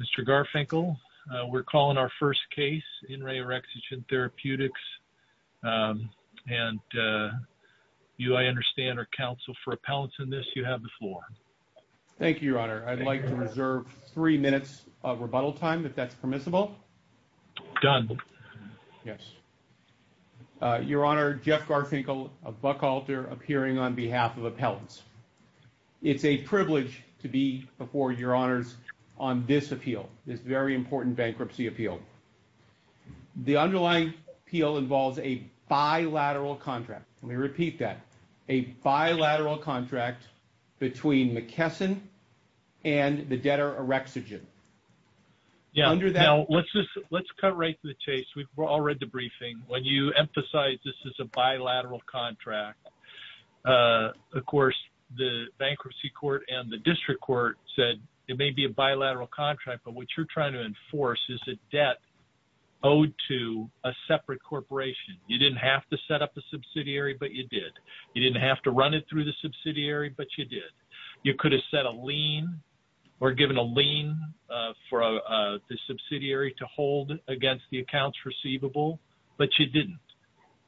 Mr. Garfinkel, we're calling our first case in Re Orexigen Therapeutics and you, I understand, are counsel for appellants in this. You have the floor. Thank you, Your Honor. I'd like to reserve three minutes of rebuttal time, if that's permissible. Done. Yes. Your Honor, Jeff Garfinkel of Buckhalter appearing on behalf of this appeal, this very important bankruptcy appeal. The underlying appeal involves a bilateral contract. Let me repeat that. A bilateral contract between McKesson and the debtor Orexigen. Yeah. Under that. Let's just, let's cut right to the chase. We've all read the briefing. When you emphasize this is a bilateral contract, of course, the bankruptcy court and the district court said it may be a contract, but what you're trying to enforce is a debt owed to a separate corporation. You didn't have to set up a subsidiary, but you did. You didn't have to run it through the subsidiary, but you did. You could have set a lien or given a lien for the subsidiary to hold against the accounts receivable, but you didn't.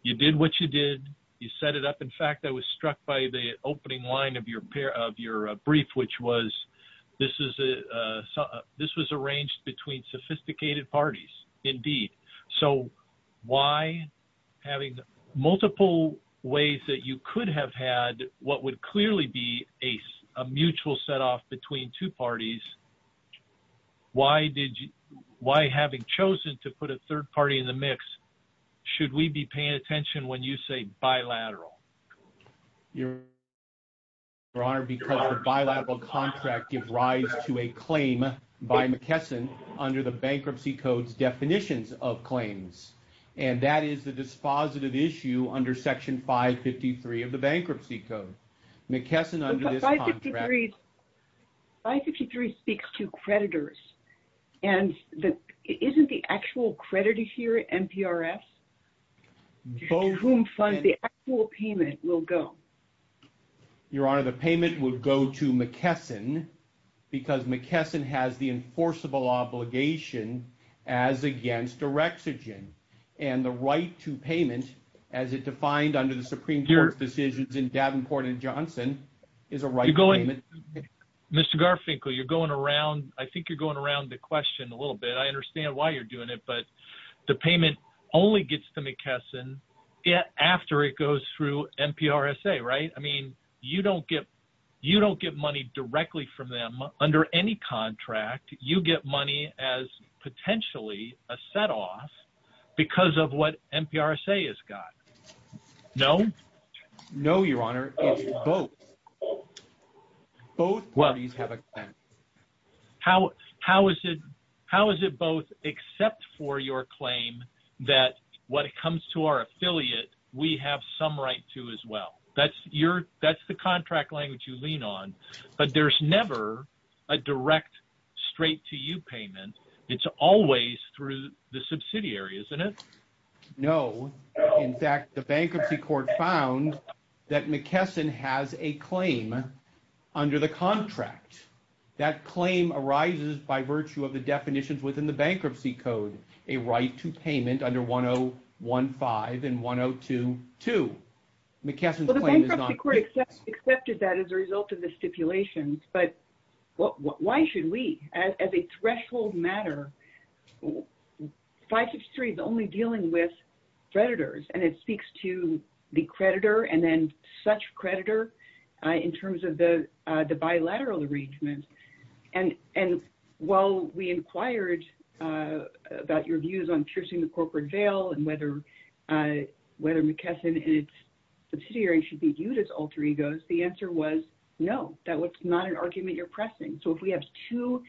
You did what you did. You set it up. In fact, I was struck by the opening line of your brief, which was this was arranged between sophisticated parties. Indeed. So why, having multiple ways that you could have had what would clearly be a mutual set off between two parties, why, having chosen to put a third party in the mix, should we be paying attention when you say bilateral? Your Honor, because the bilateral contract gives rise to a claim by McKesson under the Bankruptcy Code's definitions of claims, and that is the dispositive issue under Section 553 of the Bankruptcy Code. McKesson, under this contract... 553 speaks to creditors, and isn't the actual creditor here NPRS? To whom funds the actual payment will go? Your Honor, the payment will go to McKesson because McKesson has the enforceable obligation as against Erexogen, and the right to payment, as it defined under the Supreme Court's decisions in Davenport and Johnson, is a right payment. Mr. Garfinkel, you're going around, I think you're going around the question a little bit. I understand why you're doing it, but the payment only gets to McKesson after it goes through NPRSA, right? I mean, you don't get, you don't get money directly from them under any contract. You get money as potentially a set-off because of what NPRSA has got. No? No, Your Honor. It's both. Both parties have a claim. How, how is it, how is it both except for your claim that what comes to our affiliate, we have some right to as well? That's your, that's the contract language you lean on. But there's never a direct straight to you payment. It's always through the subsidiary, isn't it? No. In fact, the bankruptcy court found that McKesson has a claim under the contract. That claim arises by virtue of the definitions within the bankruptcy code, a right to payment under 1015 and 1022. McKesson's claim is not... Well, the bankruptcy court accepted that as a result of the stipulations, but why should we? As a threshold matter, 563 is only dealing with creditors, and it is a collateral arrangement. And, and while we inquired about your views on piercing the corporate veil and whether, whether McKesson and its subsidiary should be viewed as alter egos, the answer was no, that was not an argument you're pressing. So if we have two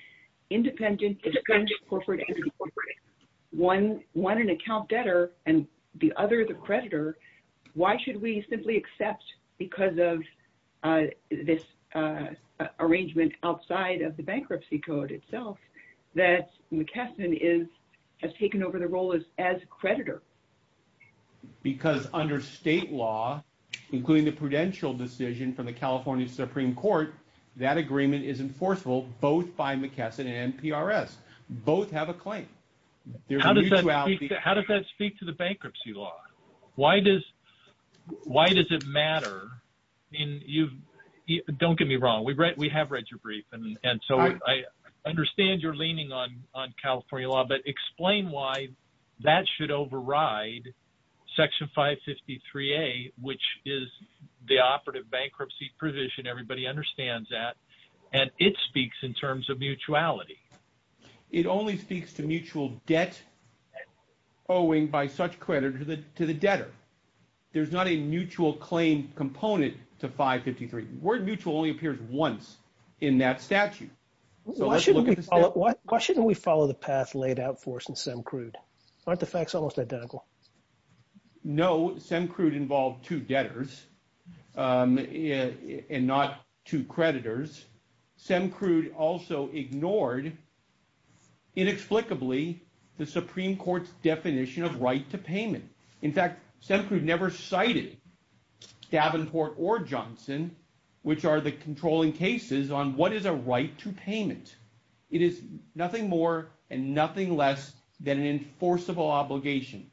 independent, independent corporate entities, one, one an account debtor and the other the creditor, why should we have an arrangement outside of the bankruptcy code itself that McKesson is, has taken over the role as, as a creditor? Because under state law, including the prudential decision from the California Supreme Court, that agreement is enforceable both by McKesson and PRS. Both have a claim. How does that speak to the bankruptcy law? Why does, why does it matter? I mean, you've, don't get me wrong, we've read, we have read your brief, and, and so I understand you're leaning on, on California law, but explain why that should override Section 553A, which is the operative bankruptcy provision everybody understands that, and it speaks in terms of mutuality. It only speaks to mutual debt owing by such creditor to the, to the debtor. There's not a mutual claim component to 553. Word mutual only appears once in that statute. So let's look at the statute. Why shouldn't we follow the path laid out for us in SEMCRUD? Aren't the facts almost identical? No, SEMCRUD involved two debtors and not two creditors. SEMCRUD also ignored, inexplicably, the Supreme Court's definition of right to payment. In fact, SEMCRUD never cited Davenport or Johnson, which are the controlling cases, on what is a right to payment. It is nothing more and nothing less than an enforceable obligation.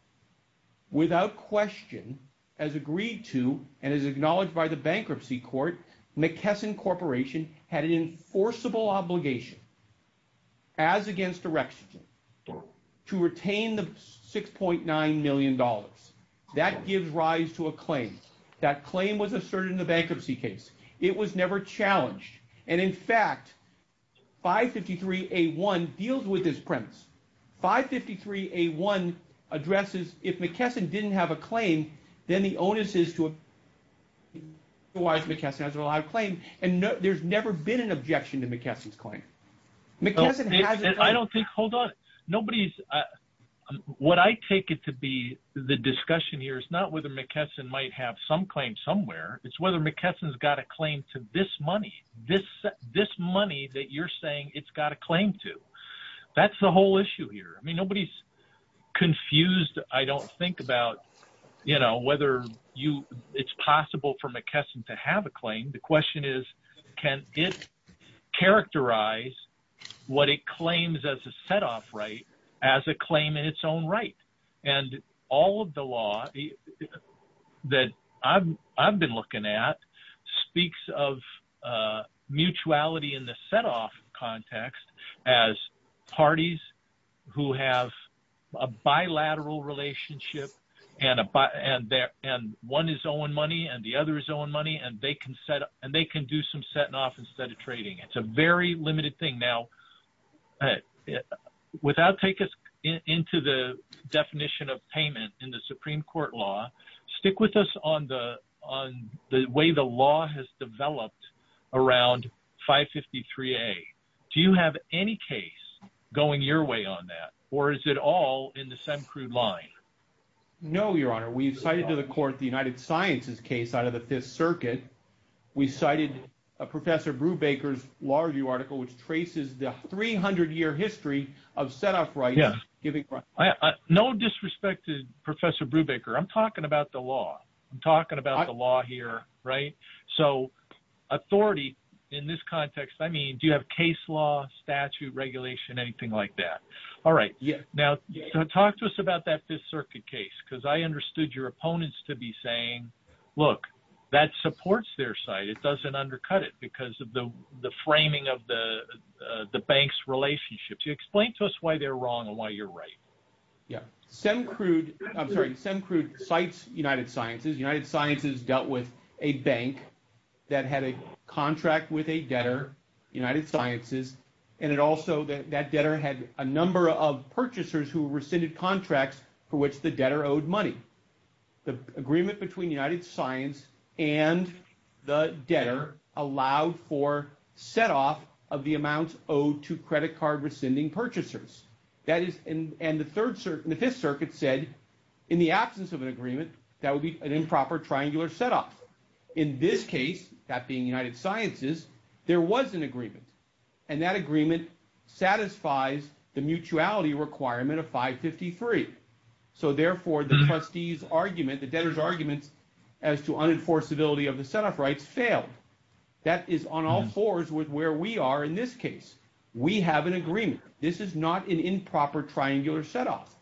Without question, as agreed to, and as acknowledged by the bankruptcy court, McKesson Corporation had an enforceable obligation, as against Erection, to retain the $6.9 million. That gives rise to a claim. That claim was asserted in the bankruptcy case. It was never challenged. And in fact, 553A1 deals with this premise. 553A1 addresses, if McKesson didn't have a claim, then the onus is to... Otherwise, McKesson has a lot of claim. And there's never been an objection to McKesson's claim. McKesson has a claim. I don't think... Hold on. Nobody's... What I take it to be, the discussion here, is not whether McKesson might have some claim somewhere. It's whether McKesson's got a claim to this money. This money that you're saying it's got a claim to. That's the whole issue here. I mean, nobody's confused, I don't think, about, you know, whether it's possible for McKesson to have a claim. The question is, can it characterize what it claims as a set-off right as a claim in its own right? And all of the law that I've been looking at speaks of mutuality in the set-off context as parties who have a bilateral relationship and one is owing money and the other is owing money and they can do some set-off instead of trading. It's a very limited thing. Now, without taking us into the definition of payment in the Supreme Court law, stick with us on the way the law has developed around 553A. Do you have any case going your way on that? Or is it all in the Semcrude line? No, Your Honour, we've cited to the court the United Sciences case out of the Fifth Circuit. We cited Professor Brubaker's law review article which traces the 300-year history of set-off rights. No disrespect to Professor Brubaker, I'm talking about the law. I'm talking about the law here, right? So, authority in this context, I mean, do you have case law, statute, regulation, anything like that? All right, now, talk to us about that Fifth Circuit case because I understood your opponents to be saying, look, that supports their side, it doesn't undercut it because of the framing of the bank's relationships. You explain to us why they're wrong and why you're right. Yeah, Semcrude, I'm sorry, Semcrude cites United Sciences. United Sciences dealt with a bank that had a contract with a debtor, United Sciences, and it also, that debtor had a number of purchasers who rescinded contracts for which the debtor owed money. The agreement between United Science and the debtor allowed for set-off of the amounts owed to credit card rescinding purchasers. That is, and the Fifth Circuit said, in the absence of an agreement, that would be an improper triangular set-off. In this case, that being United Sciences, there was an agreement, and that agreement satisfies the mutuality requirement of 553. So therefore, the trustee's argument, the debtor's arguments as to unenforceability of the set-off rights failed. That is on all fours with where we are in this case. We have an agreement. This is not an improper triangular set-off.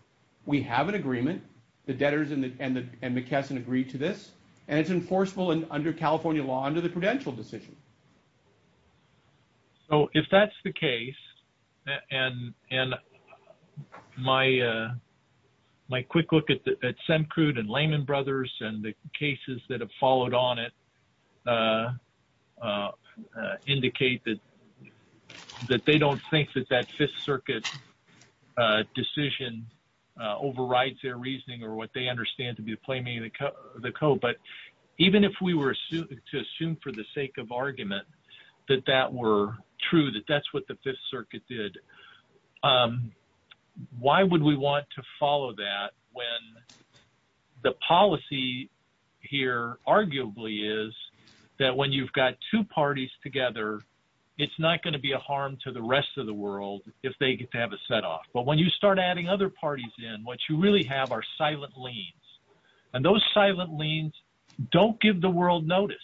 We have an agreement, the debtors and McKesson agreed to this, and it's enforceable under California law under the prudential decision. So if that's the case, and my quick look at Semcrude and Lehman Brothers and the cases that have followed on it indicate that they don't think that that Fifth Circuit decision overrides their reasoning or what they understand to be the plain meaning of the code. But even if we were to assume for the sake of argument that that were true, that that's what the Fifth Circuit did, why would we want to follow that when the policy here arguably is that when you've got two parties together, it's not gonna be a harm to the rest of the world if they get to have a set-off. But when you start adding other parties in, what you really have are silent liens. And those silent liens don't give the world notice.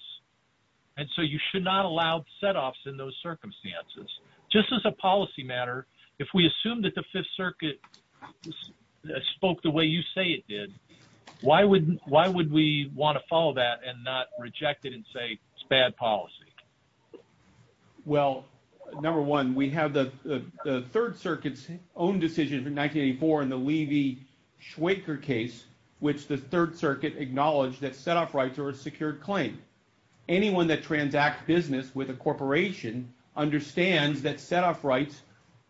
And so you should not allow set-offs in those circumstances. Just as a policy matter, if we assume that the Fifth Circuit spoke the way you say it did, why would we want to follow that and not reject it and say it's bad policy? Well, number one, we have the Third Circuit's own decision in 1984 in the Levy-Schweiker case, which the Third Circuit acknowledged that set-off rights are a secured claim. Anyone that transact business with a corporation understands that set-off rights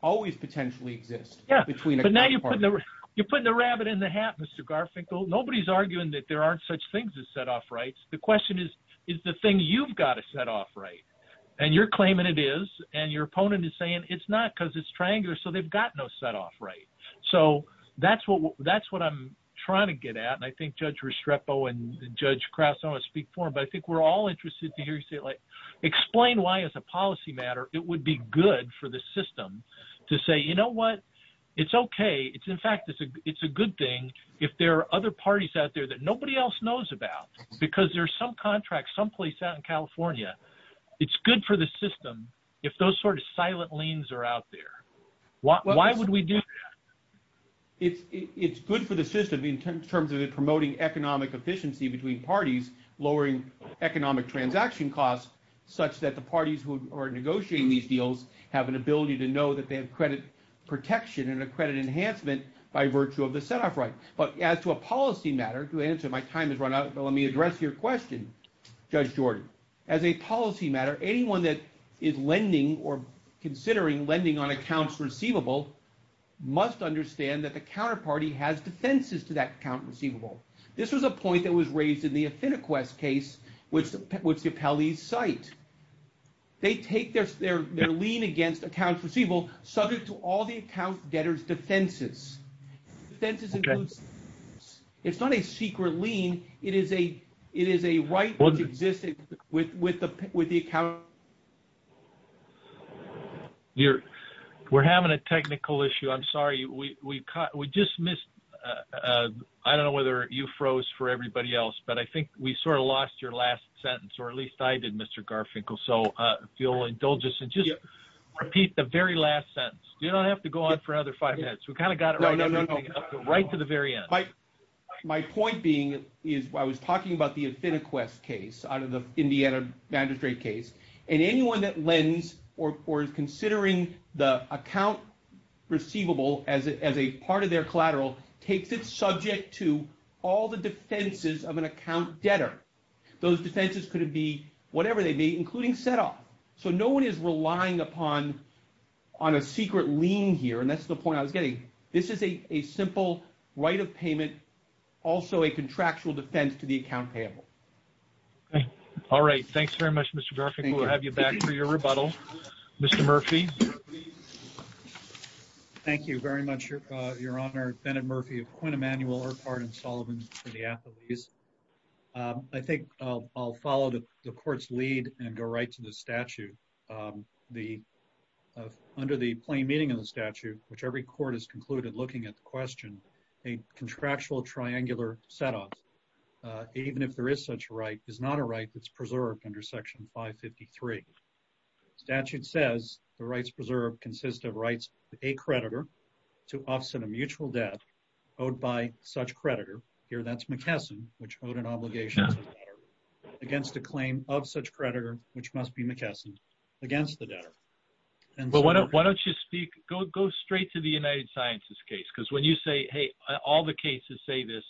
always potentially exist between a couple parties. You're putting the rabbit in the hat, Mr. Garfinkel. Nobody's arguing that there aren't such things as set-off rights. The question is, is the thing you've got a set-off right? And you're claiming it is, and your opponent is saying it's not because it's triangular, so they've got no set-off right. So that's what I'm trying to get at, and I think Judge Restrepo and Judge Kraus, I don't wanna speak for him, but I think we're all interested to hear you say it. Explain why, as a policy matter, it would be good for the system to say, you know what, it's okay, in fact, it's a good thing if there are other parties out there that nobody else knows about, because there's some contract someplace out in California. It's good for the system if those sort of silent liens are out there. Why would we do that? It's good for the system in terms of it promoting economic efficiency between parties, lowering economic transaction costs, such that the parties who are negotiating these deals have an ability to know that they have credit protection and a credit enhancement by virtue of the set-off right. But as to a policy matter, to answer, my time has run out, but let me address your question, Judge Jordan. As a policy matter, anyone that is lending or considering lending on accounts receivable must understand that the counterparty has defenses to that account receivable. This was a point that was raised in the Affinequest case, which the appellees cite. They take their lien against accounts receivable subject to all the account debtor's defenses. Defenses include, it's not a secret lien, it is a right which exists with the account. We're having a technical issue. I'm sorry, we just missed, I don't know whether you froze for everybody else, but I think we sort of lost your last sentence or at least I did, Mr. Garfinkel. So if you'll indulge us and just repeat the very last sentence. You don't have to go on for another five minutes. We kind of got it right to the very end. My point being is, I was talking about the Affinequest case out of the Indiana Magistrate case. And anyone that lends or is considering the account receivable as a part of their collateral takes it subject to all the defenses of an account debtor. Those defenses could be whatever they be, including set off. So no one is relying upon on a secret lien here. And that's the point I was getting. This is a simple right of payment, also a contractual defense to the account payable. Okay. All right. Thanks very much, Mr. Garfinkel. We'll have you back for your rebuttal. Mr. Murphy. Thank you very much, Your Honor. Bennett Murphy of Quinn Emanuel, Urquhart and Sullivan for the athletes. I think I'll follow the court's lead and go right to the statute. Under the plain meaning of the statute, which every court has concluded looking at the question, a contractual triangular set off. Even if there is such a right, is not a right that's preserved under section 553. Statute says the rights preserved consist of rights to a creditor to offset a mutual debt owed by such creditor. Here, that's McKesson, which owed an obligation to the debtor against a claim of such creditor, which must be McKesson against the debtor. Why don't you speak, go straight to the United Sciences case. Because when you say, hey, all the cases say this,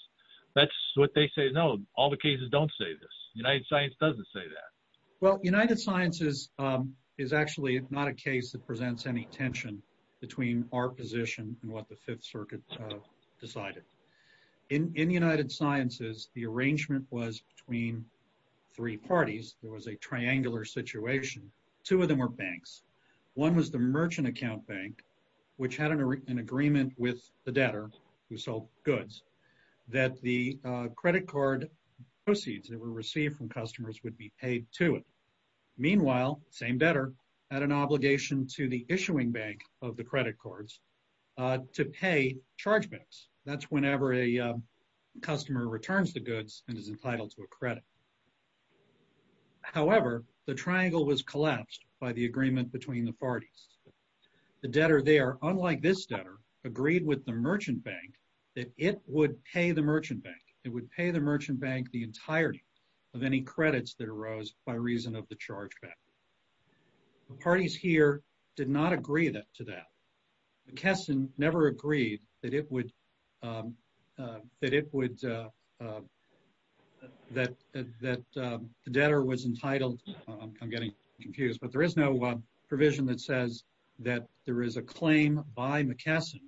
that's what they say. No, all the cases don't say this. United Science doesn't say that. Well, United Sciences is actually not a case that presents any tension between our position and what the Fifth Circuit decided. In the United Sciences, the arrangement was between three parties. There was a triangular situation. Two of them were banks. One was the merchant account bank, which had an agreement with the debtor who sold goods that the credit card proceeds that were received from customers would be paid to it. Meanwhile, same debtor had an obligation to the issuing bank of the credit cards to pay chargements. That's whenever a customer returns the goods and is entitled to a credit. However, the triangle was collapsed by the agreement between the parties. The debtor there, unlike this debtor, agreed with the merchant bank that it would pay the merchant bank. It would pay the merchant bank the entirety of any credits that arose by reason of the charge back. The parties here did not agree to that. McKesson never agreed that it would, that the debtor was entitled, I'm getting confused, but there is no provision that says that there is a claim by McKesson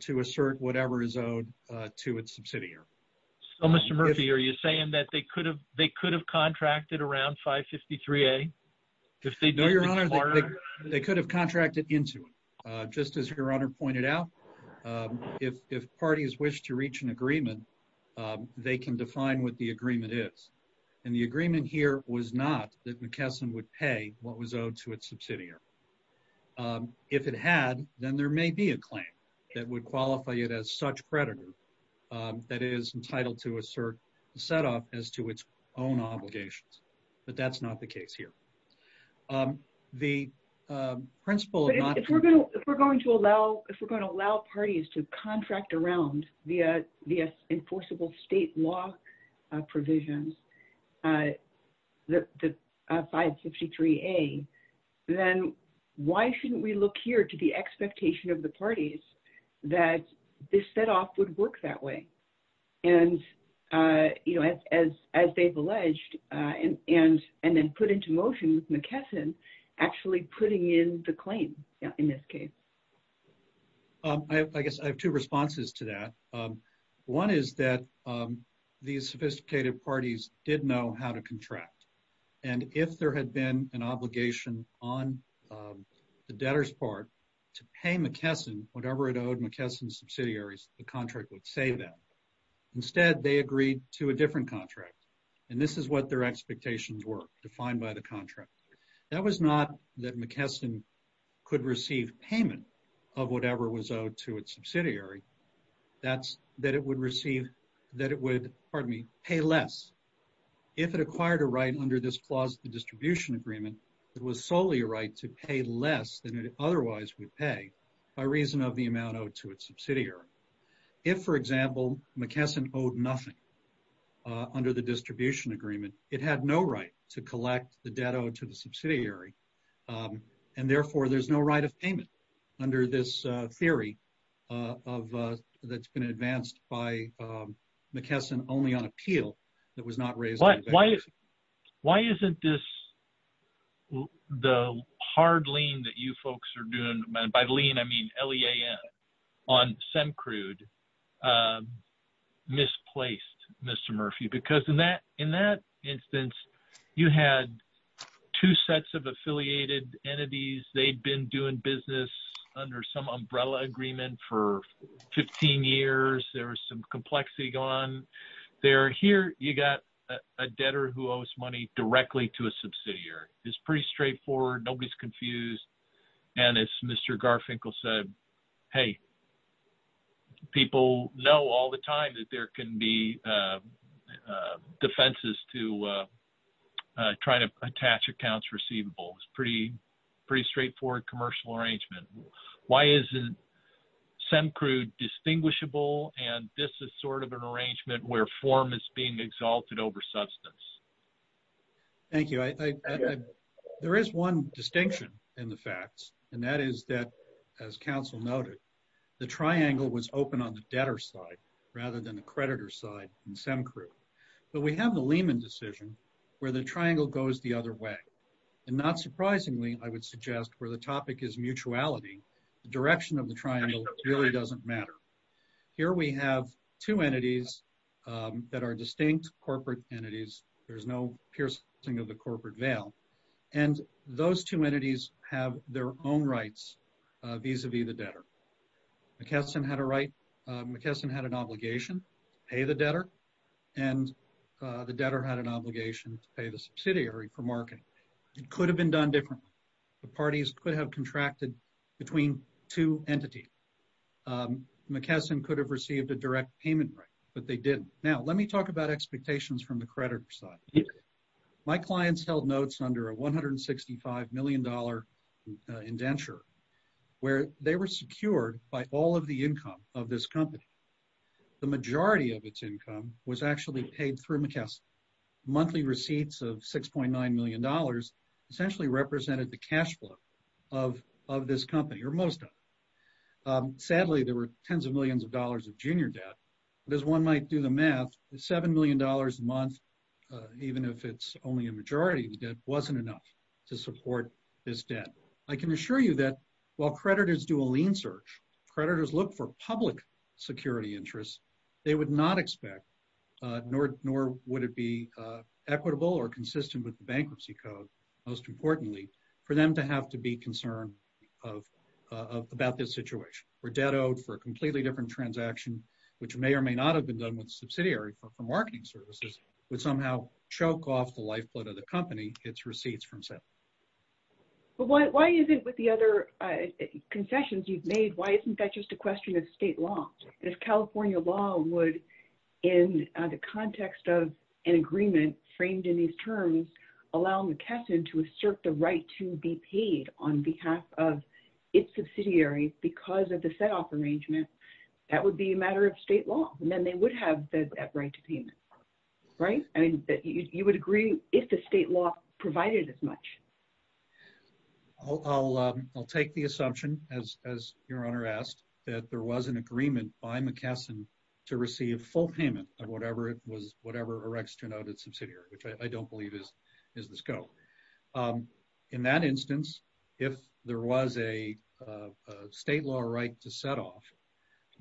to assert whatever is owed to its subsidiary. So Mr. Murphy, are you saying that they could have, they could have contracted around 553A? If they know your honor, they could have contracted into it. Just as your honor pointed out, if parties wish to reach an agreement, they can define what the agreement is. And the agreement here was not that McKesson would pay what was owed to its subsidiary. If it had, then there may be a claim that would qualify it as such creditor that is entitled to assert the set-off as to its own obligations. But that's not the case here. The principle of not- If we're going to allow, if we're going to allow parties to contract around via enforceable state law provisions, the 553A, then why shouldn't we look here to the expectation of the parties that this set-off would work that way? And as they've alleged, and then put into motion with McKesson actually putting in the claim in this case. I guess I have two responses to that. One is that these sophisticated parties did know how to contract. And if there had been an obligation on the debtor's part to pay McKesson whatever it owed McKesson subsidiaries, the contract would save them. Instead, they agreed to a different contract. And this is what their expectations were defined by the contract. That was not that McKesson could receive payment of whatever was owed to its subsidiary. That's that it would receive, that it would, pardon me, pay less. If it acquired a right under this clause of the distribution agreement, it was solely a right to pay less than it otherwise would pay by reason of the amount owed to its subsidiary. If, for example, McKesson owed nothing under the distribution agreement, it had no right to collect the debt owed to the subsidiary. And therefore there's no right of payment under this theory that's been advanced by McKesson only on appeal that was not raised. Why isn't this, the hard lien that you folks are doing, by lien, I mean, L-E-A-N on SEMCRUD misplaced, Mr. Murphy? Because in that instance, you had two sets of affiliated entities. They'd been doing business under some umbrella agreement for 15 years. There was some complexity gone. They're here, you got a debtor who owes money directly to a subsidiary. It's pretty straightforward, nobody's confused. And as Mr. Garfinkel said, hey, people know all the time that there can be defenses to trying to attach accounts receivable. It's pretty straightforward commercial arrangement. Why isn't SEMCRUD distinguishable? And this is sort of an arrangement where form is being exalted over substance. Thank you. There is one distinction in the facts. And that is that as council noted, the triangle was open on the debtor side rather than the creditor side in SEMCRUD. But we have the Lehman decision where the triangle goes the other way and not surprisingly, I would suggest where the topic is mutuality, the direction of the triangle really doesn't matter. Here we have two entities that are distinct corporate entities. There's no piercing of the corporate veil. And those two entities have their own rights vis-a-vis the debtor. McKesson had an obligation to pay the debtor and the debtor had an obligation to pay the subsidiary for marketing. It could have been done differently. The parties could have contracted between two entities. McKesson could have received a direct payment rate, but they didn't. Now, let me talk about expectations from the creditor side. My clients held notes under a $165 million indenture where they were secured by all of the income of this company. The majority of its income was actually paid through McKesson. Monthly receipts of $6.9 million essentially represented the cashflow of this company or most of it. Sadly, there were tens of millions of dollars of junior debt but as one might do the math, the $7 million a month, even if it's only a majority of the debt, wasn't enough to support this debt. I can assure you that while creditors do a lean search, creditors look for public security interests, they would not expect nor would it be equitable or consistent with the bankruptcy code, most importantly, for them to have to be concerned about this situation. We're debt owed for a completely different transaction, which may or may not have been done with subsidiary for marketing services, would somehow choke off the lifeblood of the company, its receipts from selling. But why is it with the other concessions you've made, why isn't that just a question of state law? If California law would, in the context of an agreement framed in these terms, allow McKesson to assert the right to be paid on behalf of its subsidiary because of the set off arrangement, that would be a matter of state law and then they would have that right to payment, right? I mean, you would agree if the state law provided as much. I'll take the assumption as your owner asked that there was an agreement by McKesson to receive full payment of whatever it was, whatever EREC's denoted subsidiary, which I don't believe is the scope. In that instance, if there was a state law right to set off,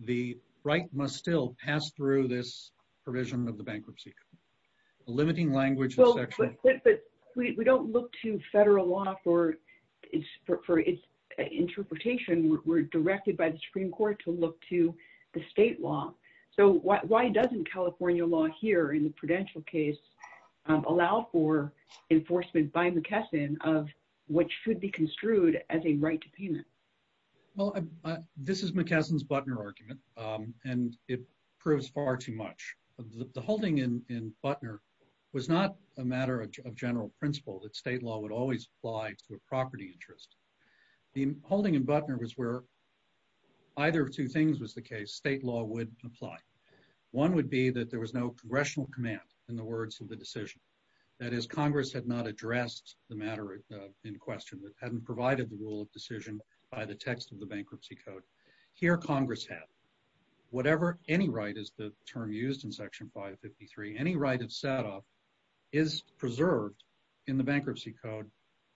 the right must still pass through this provision of the bankruptcy code. Limiting language is actually- But we don't look to federal law for its interpretation, we're directed by the Supreme Court to look to the state law. So why doesn't California law here in the Prudential case allow for enforcement by McKesson of what should be construed as a right to payment? Well, this is McKesson's Butner argument and it proves far too much. The holding in Butner was not a matter of general principle that state law would always apply to a property interest. The holding in Butner was where either of two things was the case, state law would apply. One would be that there was no congressional command in the words of the decision. That is Congress had not addressed the matter in question, that hadn't provided the rule of decision by the text of the bankruptcy code. Here Congress had. Whatever any right is the term used in section 553, any right of set off is preserved in the bankruptcy code,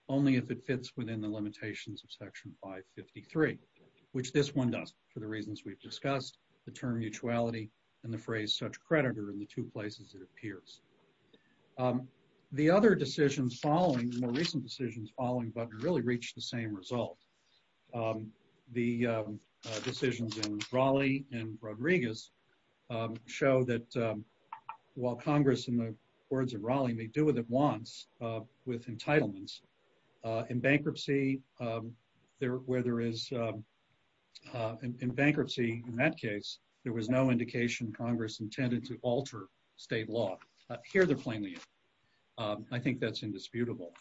only if it fits within the limitations of section 553, which this one does for the reasons we've discussed, the term mutuality and the phrase such creditor in the two places it appears. The other decisions following, the more recent decisions following Butner really reached the same result. The decisions in Raleigh and Rodriguez show that while Congress in the words of Raleigh may do what it wants with entitlements, in bankruptcy, where there is, in bankruptcy in that case, there was no indication Congress intended to alter state law. Here they're playing it. I think that's indisputable.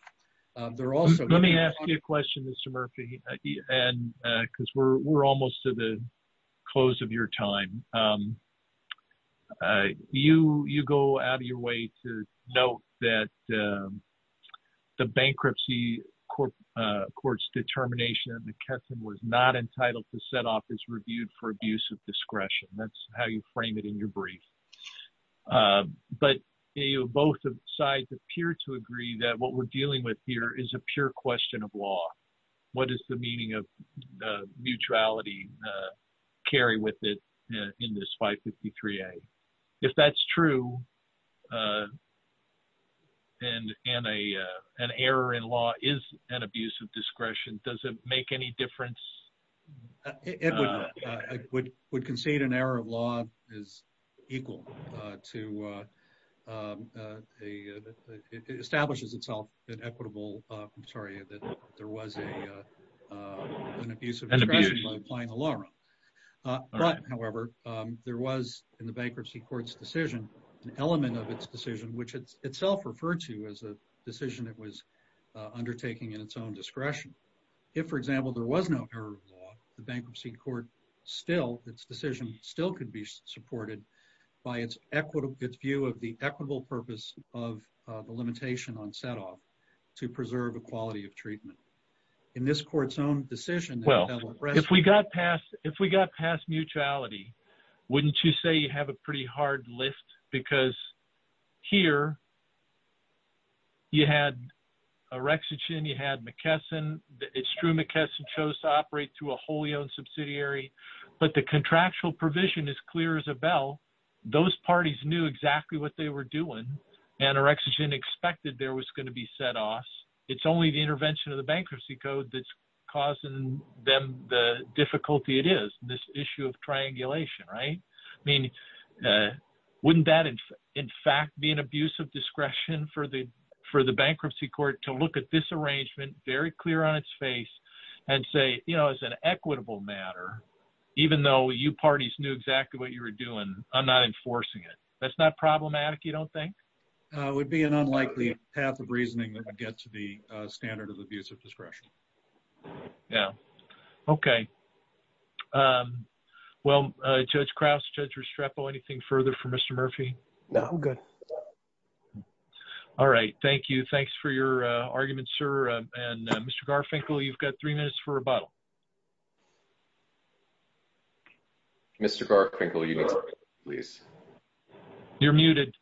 They're also- Let me ask you a question, Mr. Murphy, and because we're almost to the close of your time. You go out of your way to note that the bankruptcy court's determination that McKesson was not entitled to set off is reviewed for abuse of discretion. That's how you frame it in your brief. But both sides appear to agree that what we're dealing with here is a pure question of law. What is the meaning of the mutuality carry with it? In this 553A. If that's true, and an error in law is an abuse of discretion, does it make any difference? It would not. I would concede an error of law is equal to, it establishes itself an equitable, I'm sorry, that there was an abuse of discretion by applying the law. But however, there was in the bankruptcy court's decision, an element of its decision, which itself referred to as a decision that was undertaking in its own discretion. If for example, there was no error of law, the bankruptcy court still, its decision still could be supported by its view of the equitable purpose of the limitation on set off to preserve equality of treatment. In this court's own decision- If we got past mutuality, wouldn't you say you have a pretty hard lift? Because here, you had Orexogen, you had McKesson. It's true McKesson chose to operate through a wholly owned subsidiary, but the contractual provision is clear as a bell. Those parties knew exactly what they were doing. And Orexogen expected there was gonna be set off. It's only the intervention of the bankruptcy code that's causing them the difficulty it is, this issue of triangulation, right? I mean, wouldn't that in fact be an abuse of discretion for the bankruptcy court to look at this arrangement very clear on its face and say, as an equitable matter, even though you parties knew exactly what you were doing, I'm not enforcing it. That's not problematic, you don't think? It would be an unlikely path of reasoning that would get to the standard of abuse of discretion. Yeah, okay. Well, Judge Krause, Judge Restrepo, anything further for Mr. Murphy? No, I'm good. All right, thank you. Thanks for your argument, sir. And Mr. Garfinkel, you've got three minutes for rebuttal. Mr. Garfinkel, you need to mute, please. You're muted.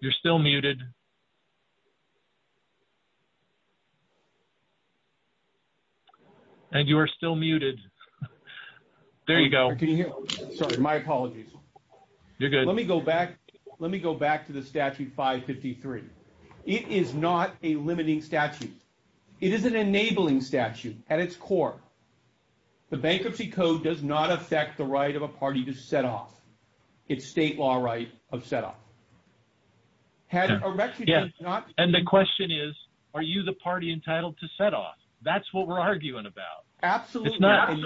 You're still muted. And you are still muted. There you go. Can you hear me? Sorry, my apologies. You're good. Let me go back to the statute 553. It is not a limiting statute. It is an enabling statute at its core. The bankruptcy code does not affect the right of a party to set off. It's state law right of set off. Had Erechigen not- And the question is, are you the party entitled to set off? That's what we're arguing about. Absolutely,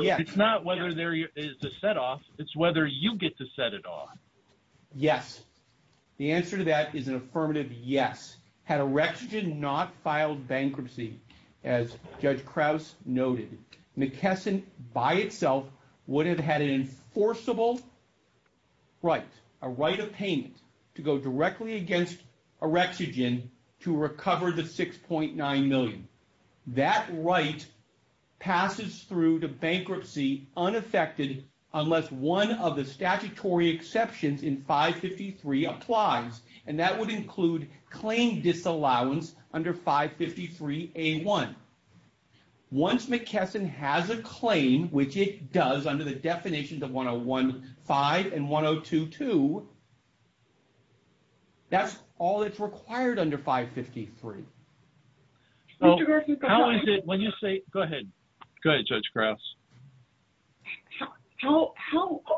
yes. It's not whether there is a set off, it's whether you get to set it off. Yes. The answer to that is an affirmative yes. Had Erechigen not filed bankruptcy, as Judge Krause noted, McKesson by itself would have had an enforceable right, a right of payment to go directly against Erechigen to recover the 6.9 million. That right passes through to bankruptcy unaffected unless one of the statutory exceptions in 553 applies. And that would include claim disallowance under 553A1. Once McKesson has a claim, which it does under the definitions of 101.5 and 102.2, that's all that's required under 553. So how is it when you say- Go ahead. Go ahead, Judge Krause. How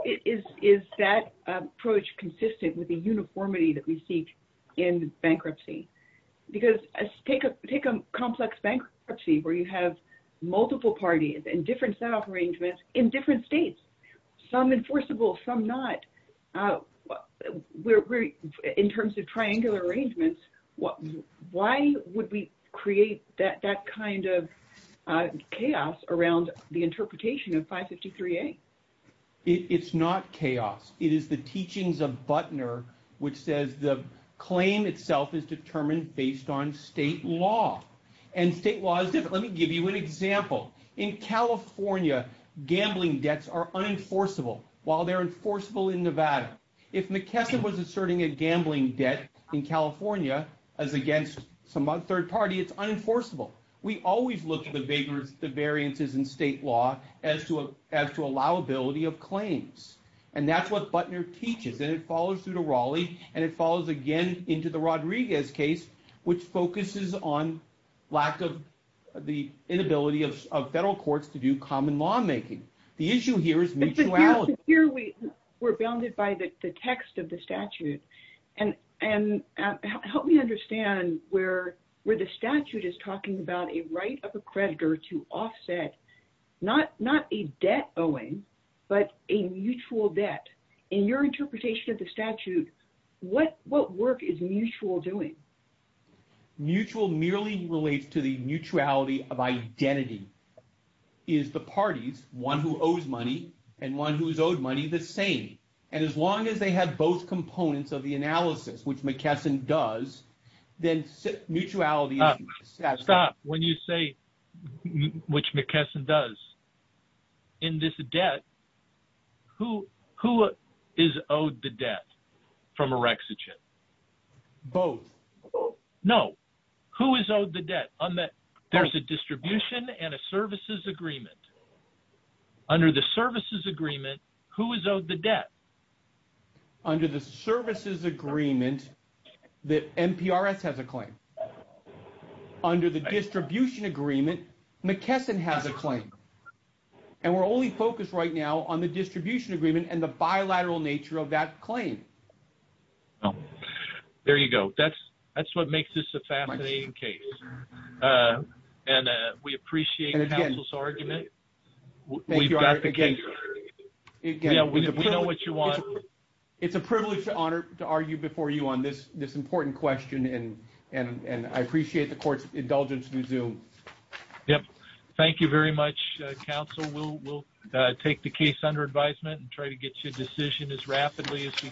is that approach consistent with the uniformity that we seek in bankruptcy? Because take a complex bankruptcy where you have multiple parties and different setup arrangements in different states, some enforceable, some not. In terms of triangular arrangements, why would we create that kind of chaos around the interpretation of 553A? It's not chaos. It is the teachings of Butner, which says the claim itself is determined based on state law. And state law is different. Let me give you an example. In California, gambling debts are unenforceable while they're enforceable in Nevada. If McKesson was asserting a gambling debt in California as against some third party, it's unenforceable. We always look at the variances in state law as to allowability of claims. And that's what Butner teaches. And it follows through to Raleigh, and it follows again into the Rodriguez case, which focuses on lack of the inability of federal courts to do common lawmaking. The issue here is mutuality. Here we're bounded by the text of the statute. And help me understand where the statute is talking about a right of a creditor to offset not a debt owing, but a mutual debt. In your interpretation of the statute, what work is mutual doing? Mutual merely relates to the mutuality of identity is the parties, one who owes money and one who is owed money the same. And as long as they have both components of the analysis, which McKesson does, then mutuality is necessary. Stop, when you say which McKesson does, in this debt, who is owed the debt from Erexigen? Both. No, who is owed the debt on that? There's a distribution and a services agreement. Under the services agreement, who is owed the debt? Under the services agreement, the NPRS has a claim. Under the distribution agreement, McKesson has a claim. And we're only focused right now on the distribution agreement and the bilateral nature of that claim. There you go. That's what makes this a fascinating case. And we appreciate the counsel's argument. We've got the case. Yeah, we know what you want. It's a privilege to argue before you on this important question. And I appreciate the court's indulgence to resume. Yep. Thank you very much, counsel. We'll take the case under advisement and try to get you a decision as rapidly as we can.